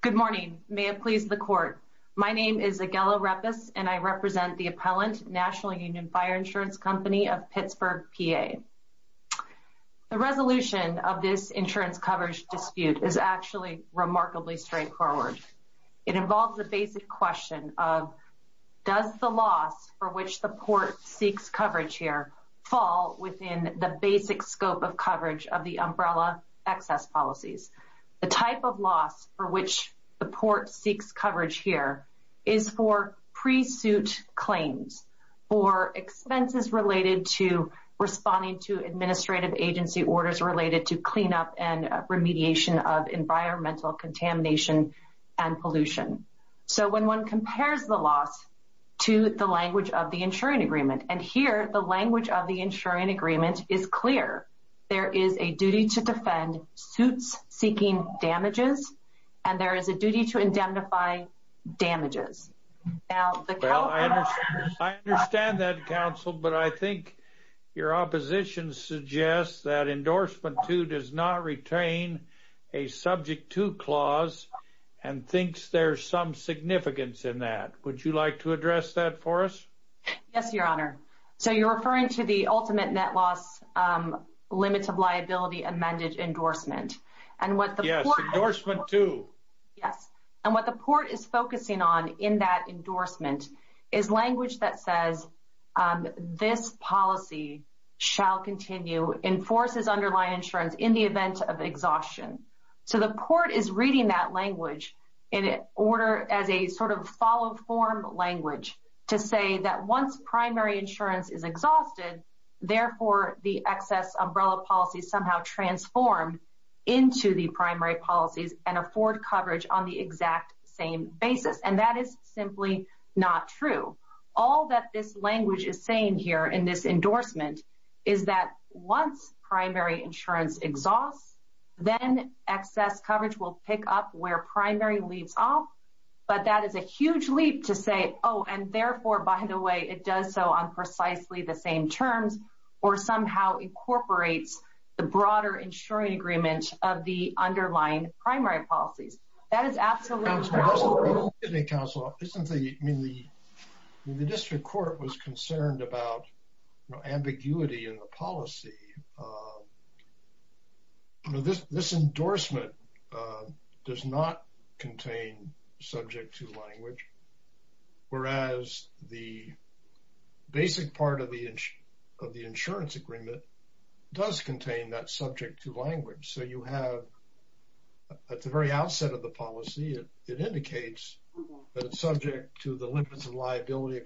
Good morning. May it please the Court. My name is Aguela Repes and I represent the Appellant, National Union Fire Insurance Company of Pittsburgh, PA. The resolution of this insurance coverage dispute is actually remarkably straightforward. It involves the basic question of, does the loss for which the Port seeks coverage here fall within the basic scope of coverage of the umbrella excess policies? The type of loss for the Port seeks coverage here is for pre-suit claims, for expenses related to responding to administrative agency orders related to cleanup and remediation of environmental contamination and pollution. So when one compares the loss to the language of the insuring agreement, and here the language of the insuring agreement is clear, there is a duty to defend suits seeking damages and there is a duty to indemnify damages. I understand that, Counsel, but I think your opposition suggests that endorsement 2 does not retain a subject to clause and thinks there's some significance in that. Would you like to address that for us? Yes, Your Honor. So you're referring to the ultimate net loss limits of liability amended endorsement. Yes, endorsement 2. Yes, and what the Port is focusing on in that endorsement is language that says this policy shall continue, enforces underlying insurance in the event of exhaustion. So the Port is reading that language in order as a sort of follow-form language to say that once primary insurance is exhausted, therefore the excess umbrella policies somehow transform into the primary policies and afford coverage on the exact same basis. And that is simply not true. All that this language is saying here in this endorsement is that once primary insurance exhausts, then excess coverage will pick up where primary leaves off. But that is a huge leap to say, oh, and therefore, by the way, it does so on precisely the same terms or somehow incorporates the broader insuring agreement of the underlying primary policies. That is absolutely not true. Counsel, the district court was concerned about ambiguity in the policy. This endorsement does not contain subject to language, whereas the basic part of the insurance agreement does contain that subject to language. So you have at the very outset of the policy, it indicates that it's subject to the limits of liability,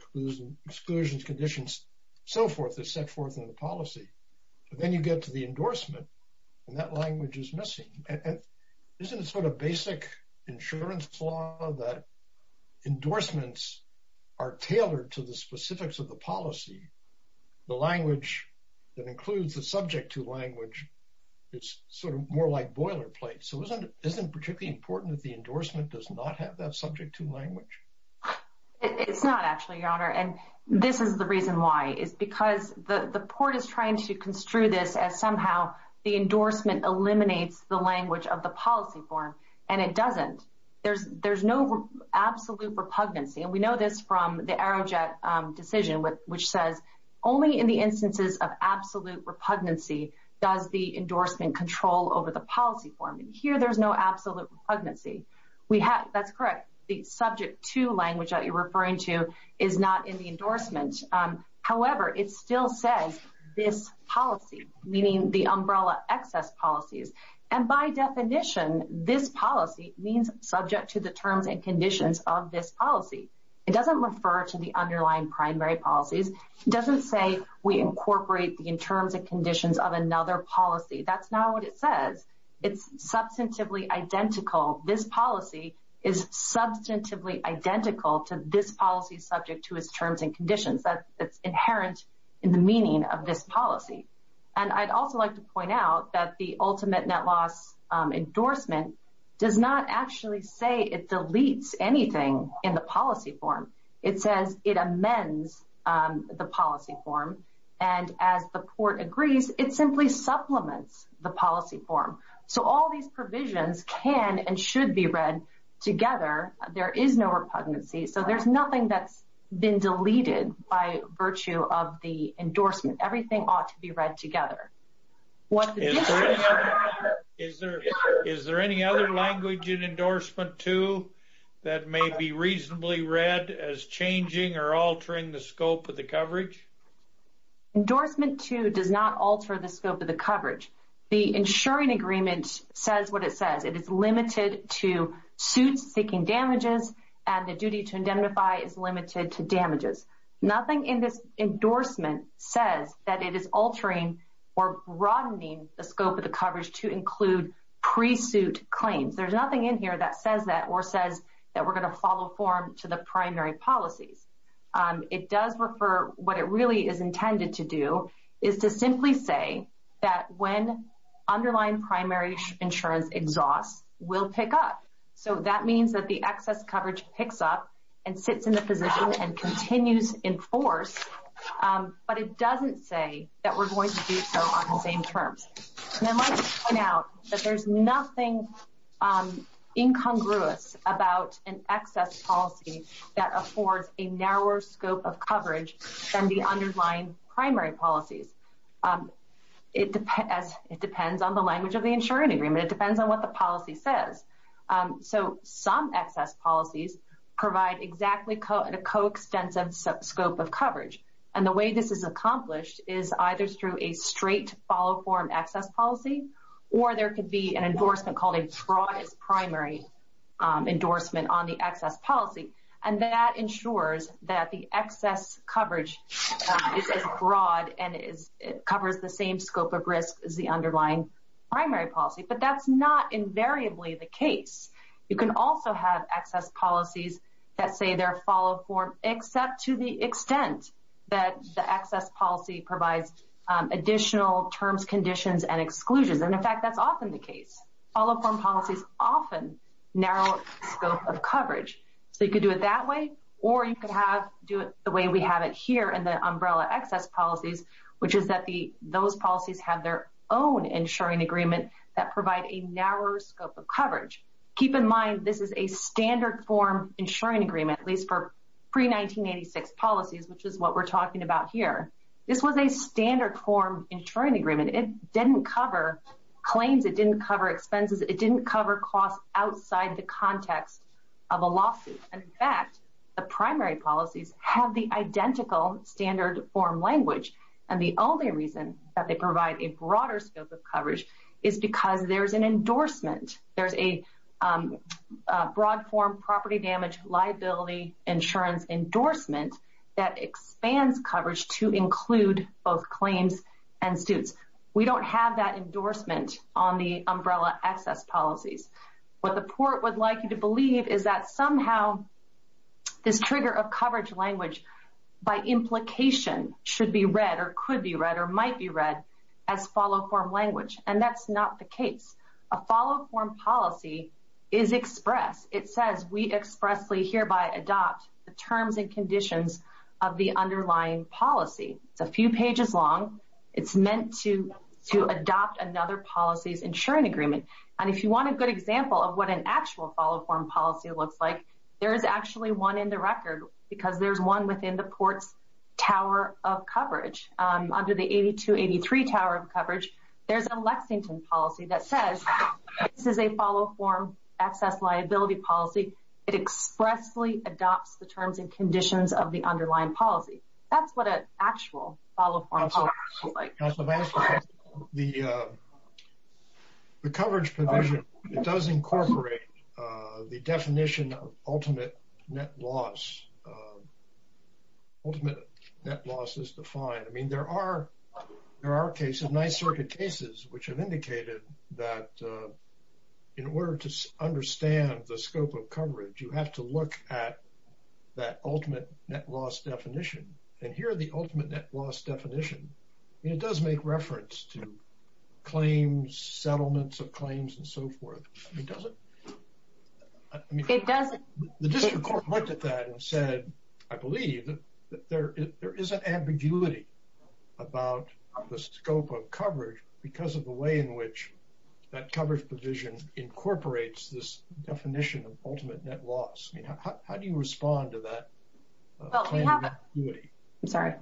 exclusions, conditions, so forth that's set forth in the policy. Then you get to the endorsement, and that language is missing. Isn't it sort of basic insurance law that endorsements are tailored to the specifics of the policy? The language that includes the subject to language, it's sort of more like boilerplate. So isn't it particularly important that the endorsement does not have that subject to language? It's not, actually, Your Honor. This is the reason why. It's because the court is trying to construe this as somehow the endorsement eliminates the language of the policy form, and it doesn't. There's no absolute repugnancy. We know this from the Aerojet decision, which says only in the instances of absolute repugnancy does the endorsement control over the policy form. Here, there's no absolute repugnancy. That's correct. The subject to language that you're referring to is not in the endorsement. However, it still says this policy, meaning the umbrella excess policies. And by definition, this policy means subject to the terms and conditions of this policy. It doesn't refer to the underlying primary policies. It doesn't say we incorporate in terms and conditions of another policy. That's not what it says. It's substantively identical. This policy is substantively identical to this policy subject to its terms and conditions. That's inherent in the meaning of this policy. And I'd also like to point out that the ultimate net loss endorsement does not actually say it deletes anything in the policy form. It says it amends the policy form. And as the court agrees, it simply supplements the policy form. So, all these provisions can and should be read together. There is no repugnancy. So, there's nothing that's been deleted by virtue of the endorsement. Everything ought to be read together. Is there any other language in endorsement, too, that may be reasonably read as changing or altering the scope of the coverage? Endorsement, too, does not alter the scope of the coverage. The insuring agreement says what it says. It is limited to suits seeking damages, and the duty to indemnify is limited to damages. Nothing in this endorsement says that it is altering or broadening the scope of the coverage to include pre-suit claims. There's nothing in what it really is intended to do is to simply say that when underlying primary insurance exhausts, we'll pick up. So, that means that the excess coverage picks up and sits in the position and continues in force, but it doesn't say that we're going to do so on the same terms. And I'd like to point out that there's nothing incongruous about an excess policy that affords a narrower scope of coverage than the underlying primary policies. It depends on the language of the insuring agreement. It depends on what the policy says. So, some excess policies provide exactly a coextensive scope of coverage, and the way this is accomplished is either through a straight follow-form excess policy, or there could be an endorsement called a broad primary endorsement on the excess policy, and that ensures that the excess coverage is as broad and covers the same scope of risk as the underlying primary policy. But that's not invariably the case. You can also have excess policies that say they're follow-form, except to the extent that the excess policy provides additional terms, conditions, and exclusions. And in fact, that's often the case. Follow-form policies often narrow scope of coverage. So, you could do it that way, or you could do it the way we have it here in the umbrella excess policies, which is that those policies have their own insuring agreement that provide a narrower scope of coverage. Keep in mind, this is a standard form insuring agreement, at least for pre-1986 policies, which is what we're talking about here. This was a standard form insuring agreement. It didn't cover claims. It didn't cover expenses. It didn't cover costs outside the context of a lawsuit. And in fact, the primary policies have the identical standard form language, and the only reason that they provide a broader scope of coverage is because there's an endorsement. There's a broad form property damage liability insurance endorsement that expands coverage to we don't have that endorsement on the umbrella excess policies. What the port would like you to believe is that somehow this trigger of coverage language, by implication, should be read or could be read or might be read as follow-form language, and that's not the case. A follow-form policy is express. It says we expressly hereby adopt the terms and conditions of the underlying policy. It's a few pages long. It's meant to adopt another policy's insuring agreement. And if you want a good example of what an actual follow-form policy looks like, there is actually one in the record because there's one within the port's tower of coverage. Under the 8283 tower of coverage, there's a Lexington policy that says this is a follow-form excess liability policy. It expressly adopts the terms and conditions of the underlying policy. That's what an actual follow-form policy looks like. Now, Sebastian, the coverage provision, it does incorporate the definition of ultimate net loss. Ultimate net loss is defined. I mean, there are cases, Ninth Circuit cases, which have indicated that in order to understand the scope of coverage, you have to look at that ultimate net loss definition. And here, the ultimate net loss definition, it does make reference to claims, settlements of claims, and so forth. It doesn't. The district court looked at that and said, I believe that there is an ambiguity about the scope of coverage because of the way in which that coverage provision incorporates this definition of ultimate net loss. How do you respond to that? I'm sorry.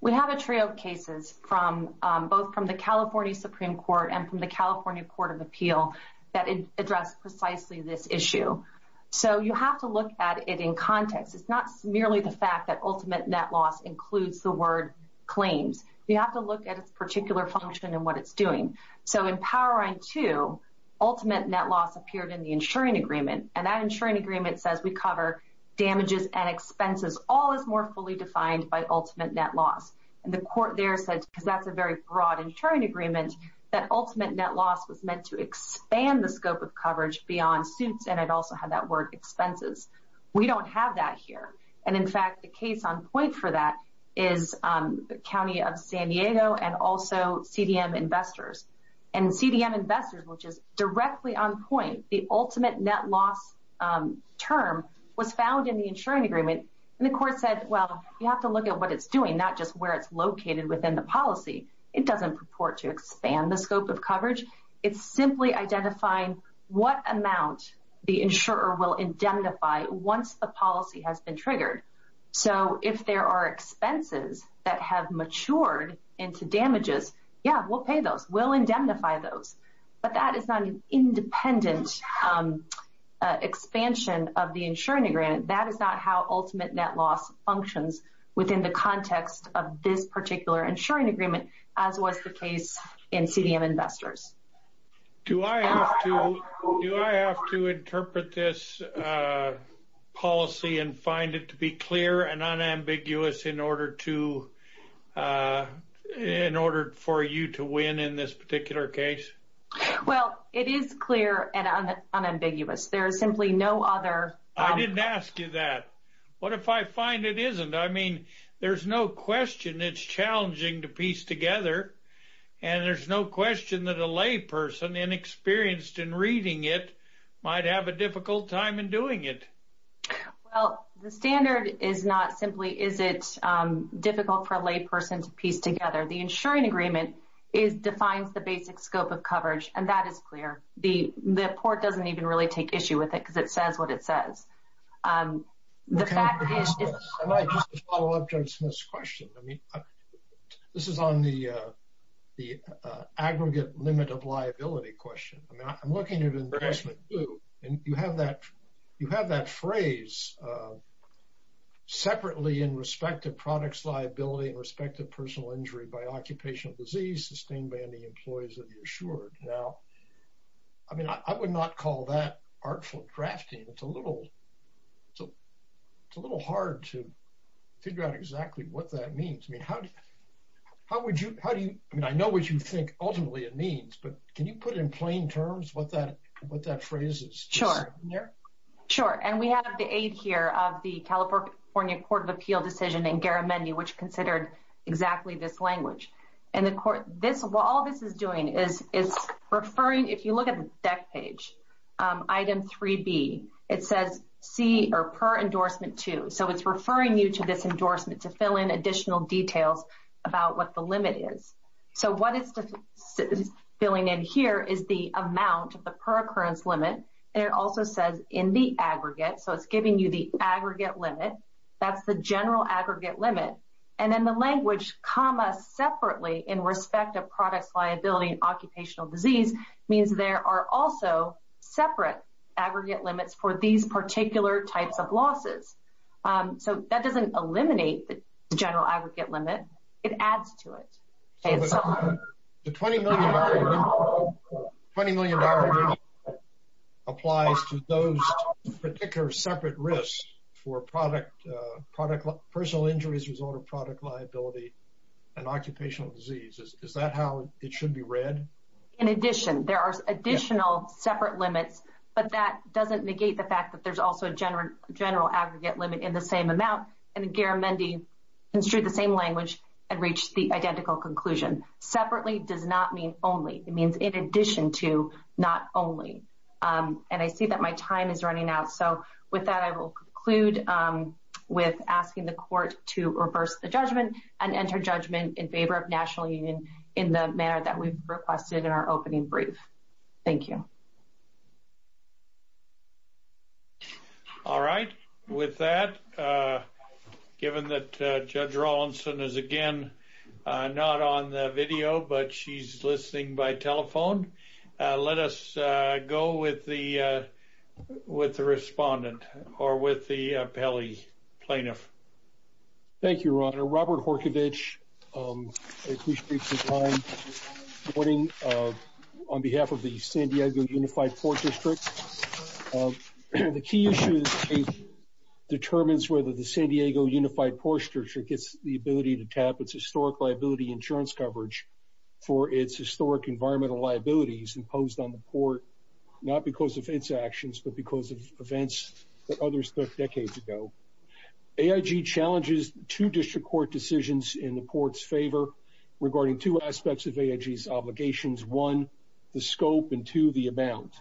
We have a trio of cases from both from the California Supreme Court and from the California Court of Appeal that address precisely this issue. So, you have to look at it in context. It's not merely the fact that ultimate net loss includes the word claims. You have to look at its particular function and what it's doing. So, in Power Line 2, ultimate net loss appeared in the insuring agreement, and that insuring agreement says we cover damages and expenses. All is more fully defined by ultimate net loss. And the court there said, because that's a very broad insuring agreement, that ultimate net loss was meant to expand the scope of coverage beyond suits, and it also had that word expenses. We don't have that San Diego and also CDM investors. And CDM investors, which is directly on point, the ultimate net loss term was found in the insuring agreement. And the court said, well, you have to look at what it's doing, not just where it's located within the policy. It doesn't purport to expand the scope of coverage. It's simply identifying what amount the insurer will indemnify once the policy has been triggered. So, if there are expenses that have matured into damages, yeah, we'll pay those. We'll indemnify those. But that is not an independent expansion of the insuring agreement. That is not how ultimate net loss functions within the context of this particular insuring agreement, as was the case in CDM investors. Do I have to interpret this policy and find it to be clear and unambiguous in order to for you to win in this particular case? Well, it is clear and unambiguous. There is simply no other. I didn't ask you that. What if I find it isn't? I mean, there's no question it's challenging to lay person inexperienced in reading it might have a difficult time in doing it. Well, the standard is not simply, is it difficult for a lay person to piece together? The insuring agreement defines the basic scope of coverage. And that is clear. The report doesn't even really take issue with it because it says what it says. The fact is. I might just follow up to this question. I mean, this is on the aggregate limit of liability question. I mean, I'm looking at investment too. And you have that phrase separately in respect to products, liability and respect to personal injury by occupational disease sustained by any employees of the insured. Now, I mean, I would not call that artful drafting. It's a little so. It's a little hard to figure out exactly what that means. I mean, how do you? How would you? How do you? I mean, I know what you think ultimately it means, but can you put in plain terms what that what that phrase is? Sure. Sure. And we have the aid here of the California Court of Appeal decision in Garamendi, which considered exactly this language and the court. This while all this is doing is referring. If you look at the deck page item 3B, it says C or per endorsement to. So it's referring you to this endorsement to fill in additional details about what the limit is. So what is filling in here is the amount of the per occurrence limit. And it also says in the aggregate. So it's giving you the aggregate limit. That's the general aggregate limit. And then the language comma separately in respect of products, liability and occupational disease means there are also separate aggregate limits for these particular types of losses. So that doesn't eliminate the general aggregate limit. It adds to it. The 20 million dollar applies to those particular separate risks for product, product, personal injuries, result of product liability and occupational disease. Is that how it should be read? In addition, there are additional separate limits, but that doesn't negate the fact that there's also a general general aggregate limit in the same amount. And Garamendi construed the same language and reached the identical conclusion separately does not mean only it means in addition to not only. And I see that my time is running out. So with that, I will conclude with asking the court to reverse the judgment and enter judgment in favor of National Union in the manner that we requested in our opening brief. Thank you. All right. With that, given that Judge Rawlinson is again not on the video, but she's listening by telephone, let us go with the with the respondent or with the Pele plaintiff. Thank you, Your Honor. Robert Horkovich. On behalf of the San Diego Unified Court District, the key issue determines whether the San Diego Unified Court District gets the ability to tap its historic liability insurance coverage for its historic environmental liabilities imposed on the court, not because of its actions, but because of events that others took decades ago. AIG challenges two district court decisions in the court's favor regarding two aspects of AIG's obligations. One, the scope, and two, the amount.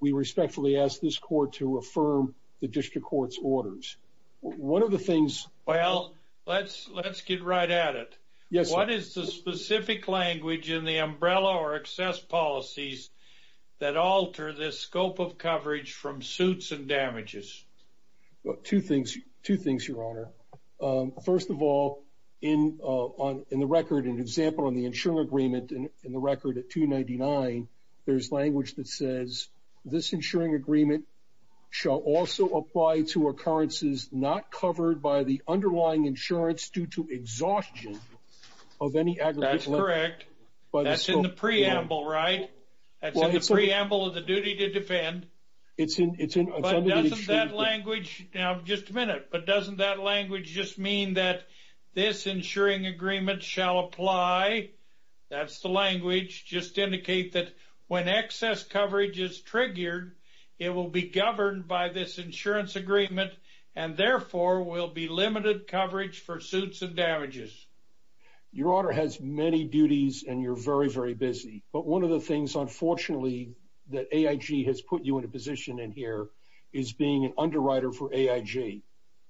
We respectfully ask this court to affirm the district court's in the umbrella or excess policies that alter the scope of coverage from suits and damages. Two things, Your Honor. First of all, in the record, an example on the insuring agreement in the record at 299, there's language that says this insuring agreement shall also apply to occurrences not covered by the underlying insurance due to exhaustion of any aggregate by the scope. That's in the preamble, right? That's in the preamble of the duty to defend. Now, just a minute, but doesn't that language just mean that this insuring agreement shall apply? That's the language. Just indicate that when excess coverage is triggered, it will be governed by this insurance agreement and therefore will be limited coverage for suits and damages. Your Honor has many duties and you're very, very busy, but one of the things, unfortunately, that AIG has put you in a position in here is being an underwriter for AIG.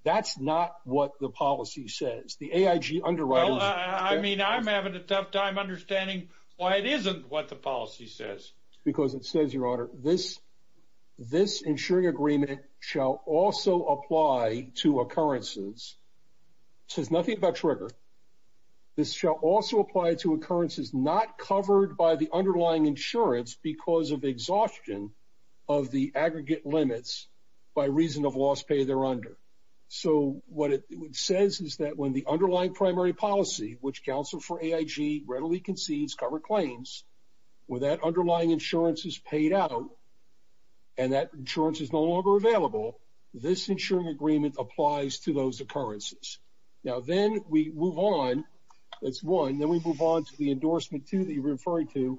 That's not what the policy says. The AIG underwriter... Well, I mean, I'm having a tough time understanding why it isn't what the policy says. Because it says, Your Honor, this insuring agreement shall also apply to occurrences. It says nothing about trigger. This shall also apply to occurrences not covered by the underlying insurance because of exhaustion of the aggregate limits by reason of loss pay they're under. So what it says is that when the underlying primary policy, which counsel for AIG readily concedes cover claims, where that underlying insurance is paid out and that insurance is no longer available, this insuring agreement applies to those occurrences. Now, then we move on. That's one. Then we move on to the endorsement two that you're referring to.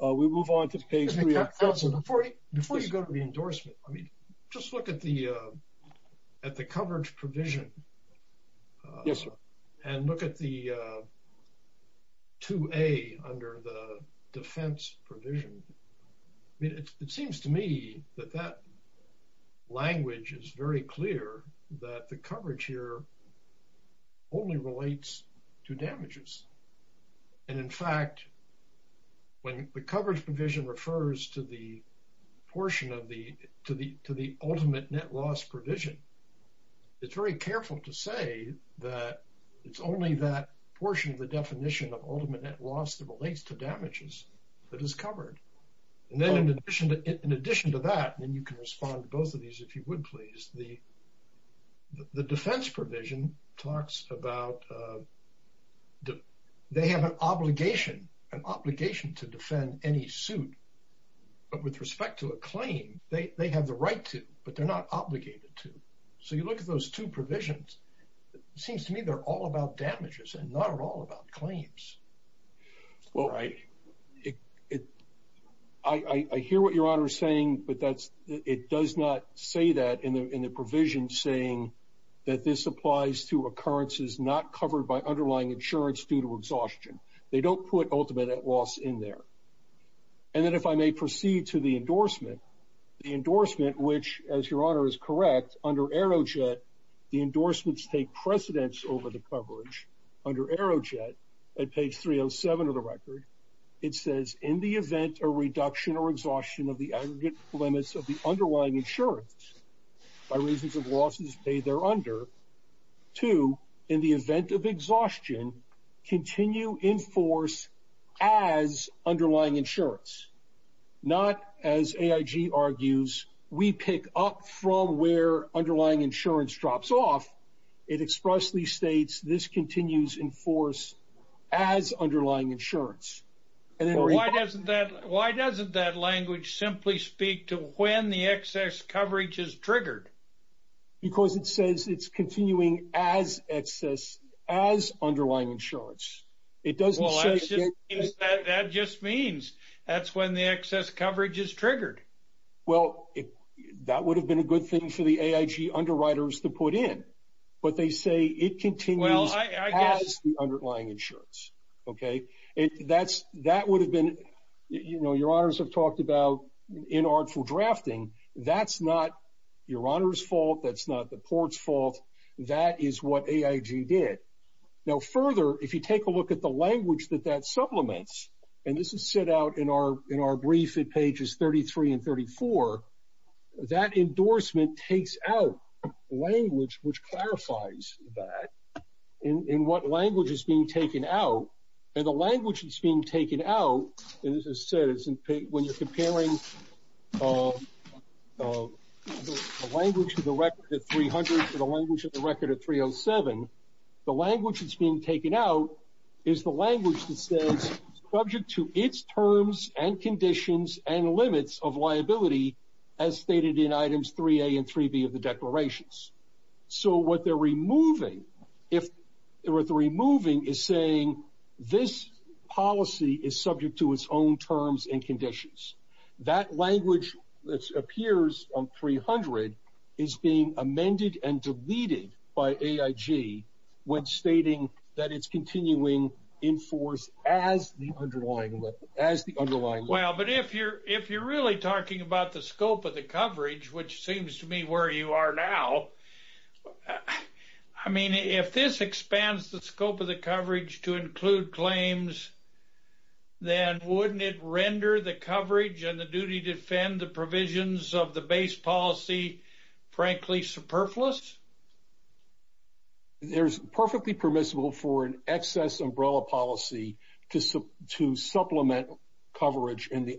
We move on to the case... Counselor, before you go to the endorsement, I mean, just look at the coverage provision. Yes, sir. And look at the 2A under the defense provision. I mean, it seems to me that that language is very clear that the coverage here only relates to damages. And in fact, when the coverage provision refers to the portion of the... To the ultimate net loss provision, it's very careful to say that it's only that portion of the definition of ultimate net loss that relates to damages that is covered. And then in addition to that, and you can respond to both of these if you would please, the defense provision talks about they have an obligation, an obligation to defend any suit. But with respect to a claim, they have the right to, but they're not obligated to. So you look at those two provisions, seems to me they're all about damages and not at all about claims. Well, I hear what your honor is saying, but it does not say that in the provision saying that this applies to occurrences not covered by underlying insurance due to exhaustion. They don't put ultimate net loss in there. And then if I may proceed to the endorsement, the endorsement, which as your honor is correct under Aerojet, the endorsements take precedence over the coverage under Aerojet at page 307 of the record. It says in the event of reduction or exhaustion of the aggregate limits of the underlying insurance by reasons of losses paid under to in the event of exhaustion, continue in force as underlying insurance, not as AIG argues, we pick up from where underlying insurance drops off. It expressly states this continues in force as underlying insurance. And then why doesn't that, why doesn't that language simply speak to when the excess coverage is triggered? Because it says it's continuing as excess, as underlying insurance. It doesn't say- That just means that's when the excess coverage is triggered. Well, that would have been a good thing for the AIG underwriters to put in, but they say it continues as the underlying insurance. Okay. That would have been, you know, your honors have talked about inartful drafting. That's not your honor's fault. That's not the court's fault. That is what AIG did. Now, further, if you take a look at the language that that supplements, and this is set out in our, in our brief at pages 33 and 34, that endorsement takes out language, which clarifies that in what language is being taken out. And the language that's being taken out, and this is said, when you're comparing the language of the record at 300 to the language of the record at 307, the language that's being taken out is the language that says subject to its terms and conditions and limits of liability as stated in items 3a and 3b of the declarations. So what they're removing, if there were three moving is saying, this policy is subject to its own terms and conditions. That language, which appears on 300, is being amended and deleted by AIG, when stating that it's continuing in force as the underlying as the underlying well, but if you're if you're really talking about the scope of the coverage, which seems to me where you are now. I mean, if this expands the scope of the coverage to include claims, then wouldn't it render the coverage and the duty defend the provisions of the base policy, frankly, superfluous? There's perfectly permissible for an excess umbrella policy to supplement coverage in the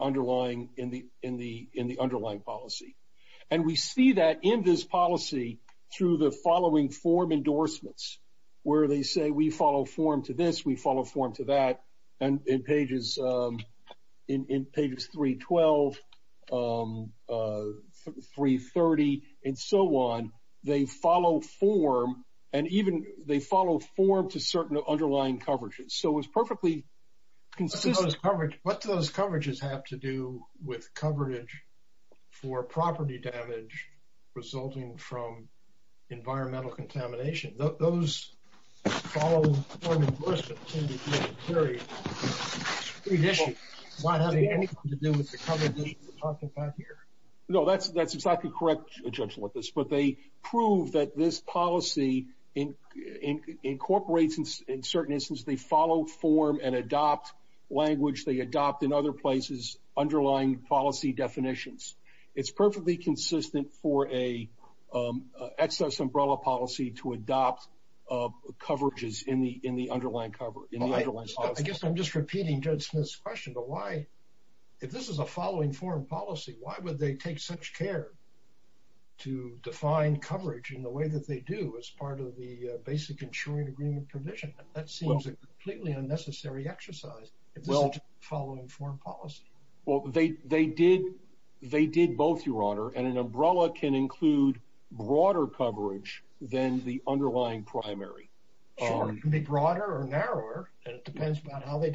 see that in this policy, through the following form endorsements, where they say we follow form to this, we follow form to that. And in pages, in pages 312, 330, and so on, they follow form, and even they follow form to certain underlying coverages. So it's perfectly consistent coverage, what those coverages have to do with coverage for property damage, resulting from environmental contamination, those No, that's, that's exactly correct, a gentleman with this, but they prove that this policy in incorporates, in certain instances, they follow form and adopt language, they adopt in other places, underlying policy definitions, it's perfectly consistent for a excess umbrella policy to adopt coverages in the in the underlying coverage. I guess I'm just repeating judge Smith's question, but why, if this is a following foreign policy, why would they take such care to define coverage in the way that they do as part of the basic insuring agreement provision, that seems completely unnecessary exercise? Well, following foreign policy? Well, they, they did, they did both, Your Honor, and an umbrella can include broader coverage than the underlying primary, broader or narrower, and it depends on how they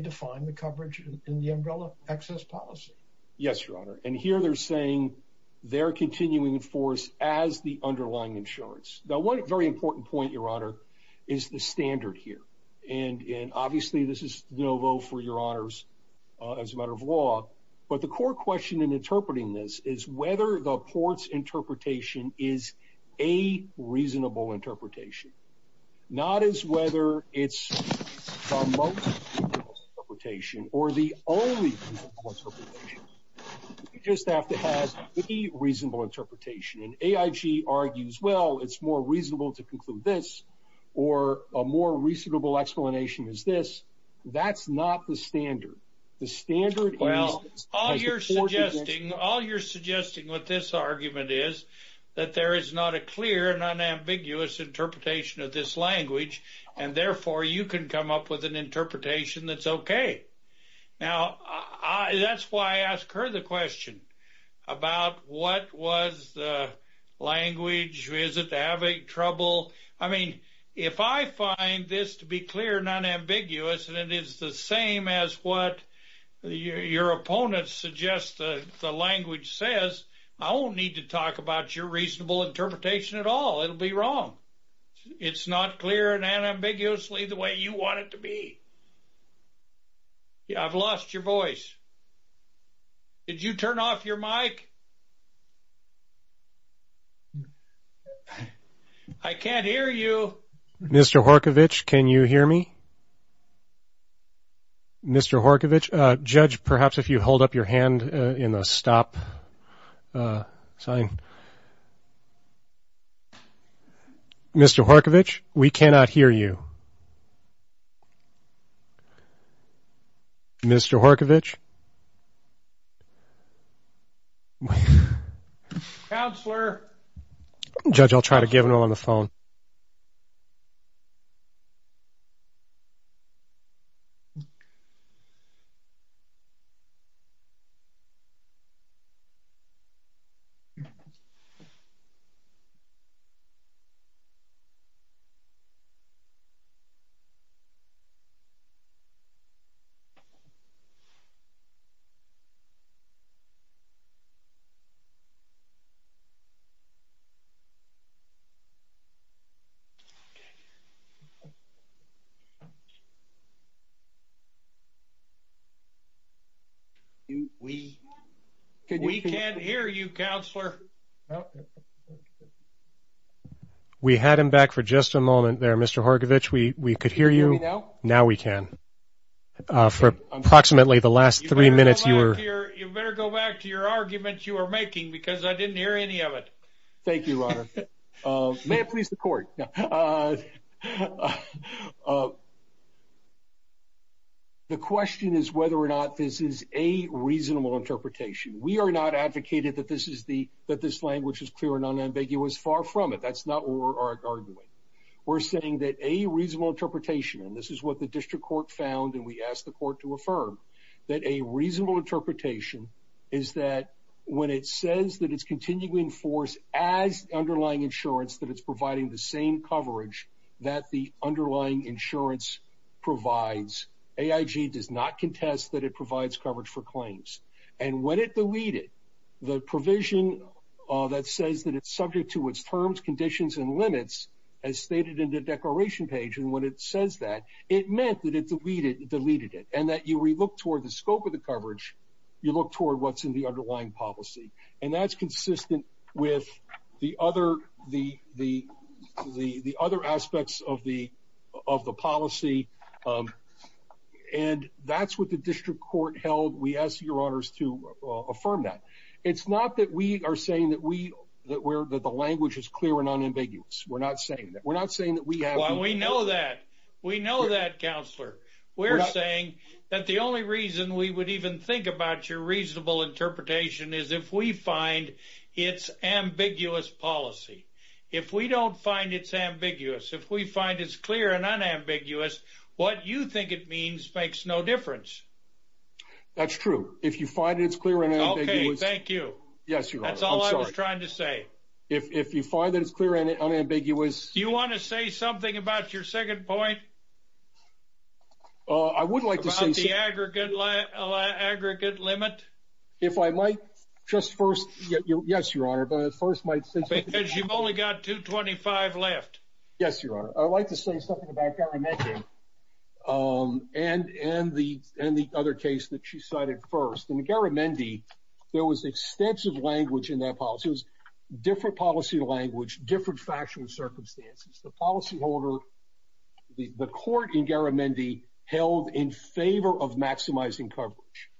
define the coverage in the umbrella access policy. Yes, Your Honor. And here, they're saying, they're continuing to enforce as the underlying insurance. Now, one very important point, Your Honor, is the standard here. And obviously, this is no vote for your honors, as a matter of law. But the core question in interpreting this is whether the courts interpretation is a reasonable interpretation, not as whether it's a most reasonable interpretation or the only reasonable interpretation. You just have to have the reasonable interpretation. And AIG argues, well, it's more reasonable to conclude this, or a more reasonable explanation is this. That's not the standard. The standard is... Well, all you're suggesting, all you're suggesting with this argument is that there is not a clear and unambiguous interpretation of this language. And therefore, you can come up with an interpretation that's okay. Now, that's why I asked her the question about what was the language, is it having trouble? I mean, if I find this to be clear and unambiguous, and it is the same as what your opponents suggest the language says, I won't need to talk about your reasonable interpretation at all. It'll be wrong. It's not clear and unambiguously the way you want it to be. Yeah, I've lost your voice. Did you turn off your mic? I can't hear you. Mr. Horkovich, can you hear me? Mr. Horkovich, judge, perhaps if you hold up your hand in the stop sign. Mr. Horkovich, we cannot hear you. Mr. Horkovich. Counselor. Judge, I'll try to give him on the phone. Okay. We can't hear you, counselor. We had him back for just a moment there, Mr. Horgovich. We could hear you. Can you hear me now? Now we can. For approximately the last three minutes, you were... You better go back to your argument you were making because I didn't hear any of it. Thank you, Ronald. May it please the court. The question is whether or not this is a reasonable interpretation. We are not advocating that this language is clear and unambiguous. Far from it. That's not what we're arguing. We're saying that a reasonable interpretation, and this is what the district court found and we asked the court to affirm, that a reasonable interpretation is that when it says that it's continually in force as underlying insurance, that it's providing the same coverage that the underlying insurance provides. AIG does not contest that it provides coverage for claims. And when it deleted the provision that says that it's subject to its terms, conditions, and limits, as stated in the declaration page, and when it says that, it meant that it deleted it and that you relook toward the scope of the coverage, you look toward what's in the underlying policy. And that's consistent with the other aspects of the policy. And that's what the district court held. We ask your honors to affirm that. It's not that we are saying that the language is clear and unambiguous. We're not saying that. We're not saying that we have... Well, we know that. We know that, counselor. We're saying that the only reason we would even think about your reasonable interpretation is if we find it's ambiguous policy. If we don't find it's ambiguous, if we find it's clear and unambiguous, what you think it means makes no difference. That's true. If you find it's clear and unambiguous... Okay. Thank you. Yes, your honor. That's all I was trying to say. If you find that it's clear and unambiguous... Do you want to say something about your second point? I would like to say... About the aggregate limit? If I might just first... Yes, your honor. But I first might say... Because you've only got 225 left. Yes, your honor. I'd like to say something about government. Thank you. And the other case that you cited first. In Garamendi, there was extensive language in that policy. It was different policy language, different factual circumstances. The policyholder, the court in Garamendi held in favor of maximizing coverage.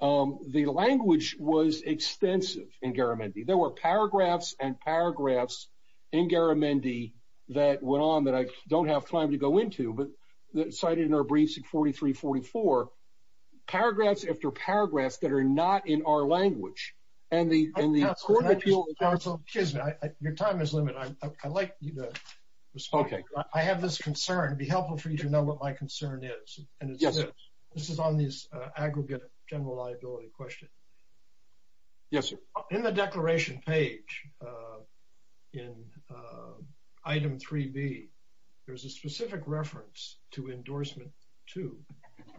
The language was extensive in Garamendi. There were paragraphs and paragraphs in Garamendi that went on that I don't have time to go into, but cited in our briefs at 43-44. Paragraphs after paragraphs that are not in our language. And the court appeal... Counsel, excuse me. Your time is limited. I'd like you to respond. Okay. I have this concern. It'd be helpful for you to know what my concern is. And this is on these aggregate general liability questions. Yes, sir. In the declaration page in item 3B, there's a specific reference to endorsement two.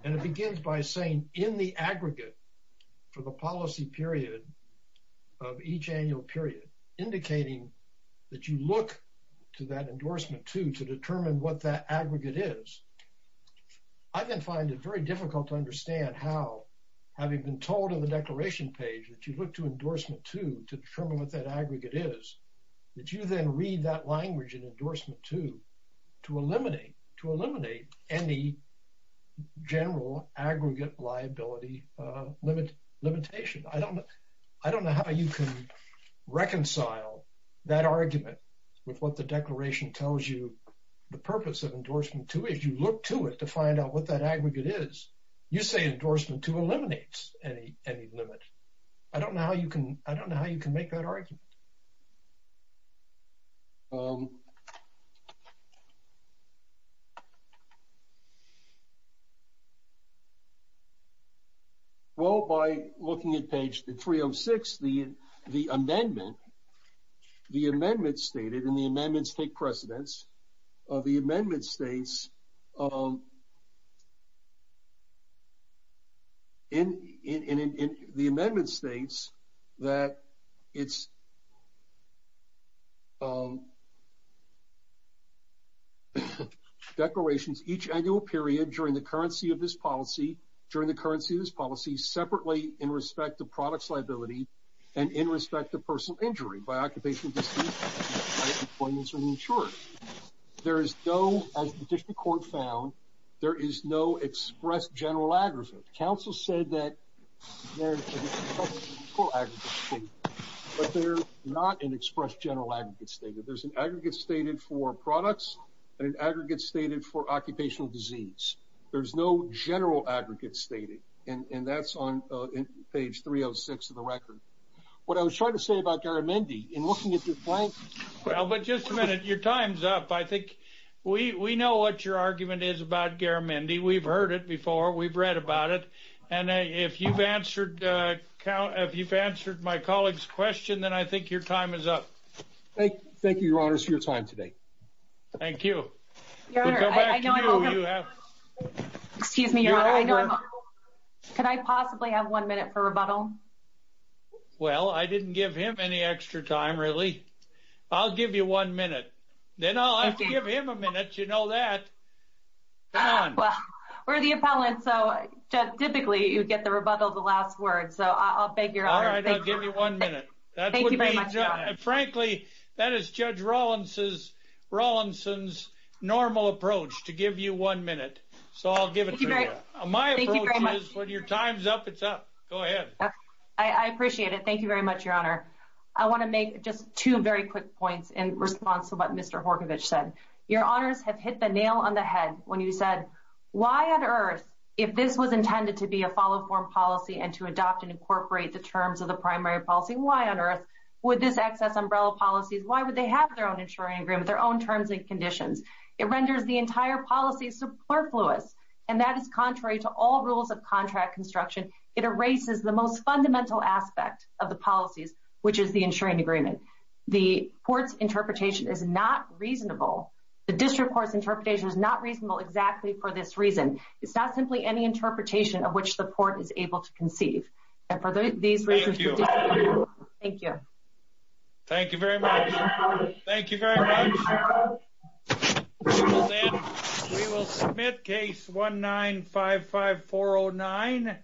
And it begins by saying in the aggregate for the policy period of each annual period, indicating that you look to that endorsement two to determine what that aggregate is. I then find it very difficult to understand how, having been told in the declaration page, you look to endorsement two to determine what that aggregate is, that you then read that language in endorsement two to eliminate any general aggregate liability limitation. I don't know how you can reconcile that argument with what the declaration tells you. The purpose of endorsement two is you look to it to find out what that aggregate is. You say endorsement two eliminates any limit. I don't know how you can make that argument. Well, by looking at page 306, the amendment stated, and the amendments take precedence, of the amendment states that it's declarations each annual period during the currency of this policy, during the currency of this policy, separately in respect to products liability and in respect to personal injury by occupation, disuse, employment, and insurance. As the district court found, there is no express general aggregate. Council said that there is an express general aggregate stated, but there's not an express general aggregate stated. There's an aggregate stated for products and an aggregate stated for occupational disease. There's no general aggregate stated, and that's on page 306 of the record. What I was trying to say about Garamendi, in looking at the blank. Well, but just a minute, your time's up. I think we know what your argument is about Garamendi. We've heard it before. We've read about it. And if you've answered my colleague's question, then I think your time is up. Thank you, your honors, for your time today. Thank you. Could I possibly have one minute for rebuttal? Well, I didn't give him any extra time, really. I'll give you one minute. Then I'll have to give him a minute. You know that. We're the appellant. So typically, you get the rebuttal, the last word. So I'll beg your honor. All right, I'll give you one minute. Thank you very much, your honor. Frankly, that is Judge Rawlinson's normal approach to give you one minute. So I'll give it to you. My approach is when your time's up, it's up. Go ahead. I appreciate it. Thank you very much, your honor. I want to make just two very quick points in response to what Mr. Horkovich said. Your honors have hit the nail on the head when you said, why on earth, if this was intended to be a follow-up policy and to adopt and incorporate the terms of the primary policy, why on earth would this access umbrella policies? Why would they have their own insuring agreement, their own terms and conditions? It renders the entire policy superfluous. And that is contrary to all rules of contract construction. It erases the most fundamental aspect of the policies, which is the insuring agreement. The court's interpretation is not reasonable. The district court's interpretation is not reasonable exactly for this reason. It's not simply any interpretation of which the court is able to conceive. And for these reasons, thank you. Thank you very much. Thank you very much. And we will submit case 1955-409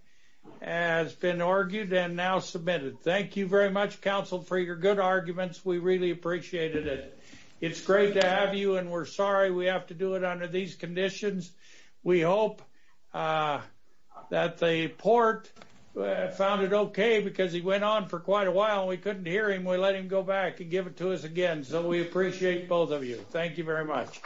as been argued and now submitted. Thank you very much, counsel, for your good arguments. We really appreciated it. It's great to have you. And we're sorry we have to do it under these conditions. We hope that the court found it OK because he went on for quite a while. We couldn't hear him. We let him go back and give it to us again. So we appreciate both of you. Thank you very much.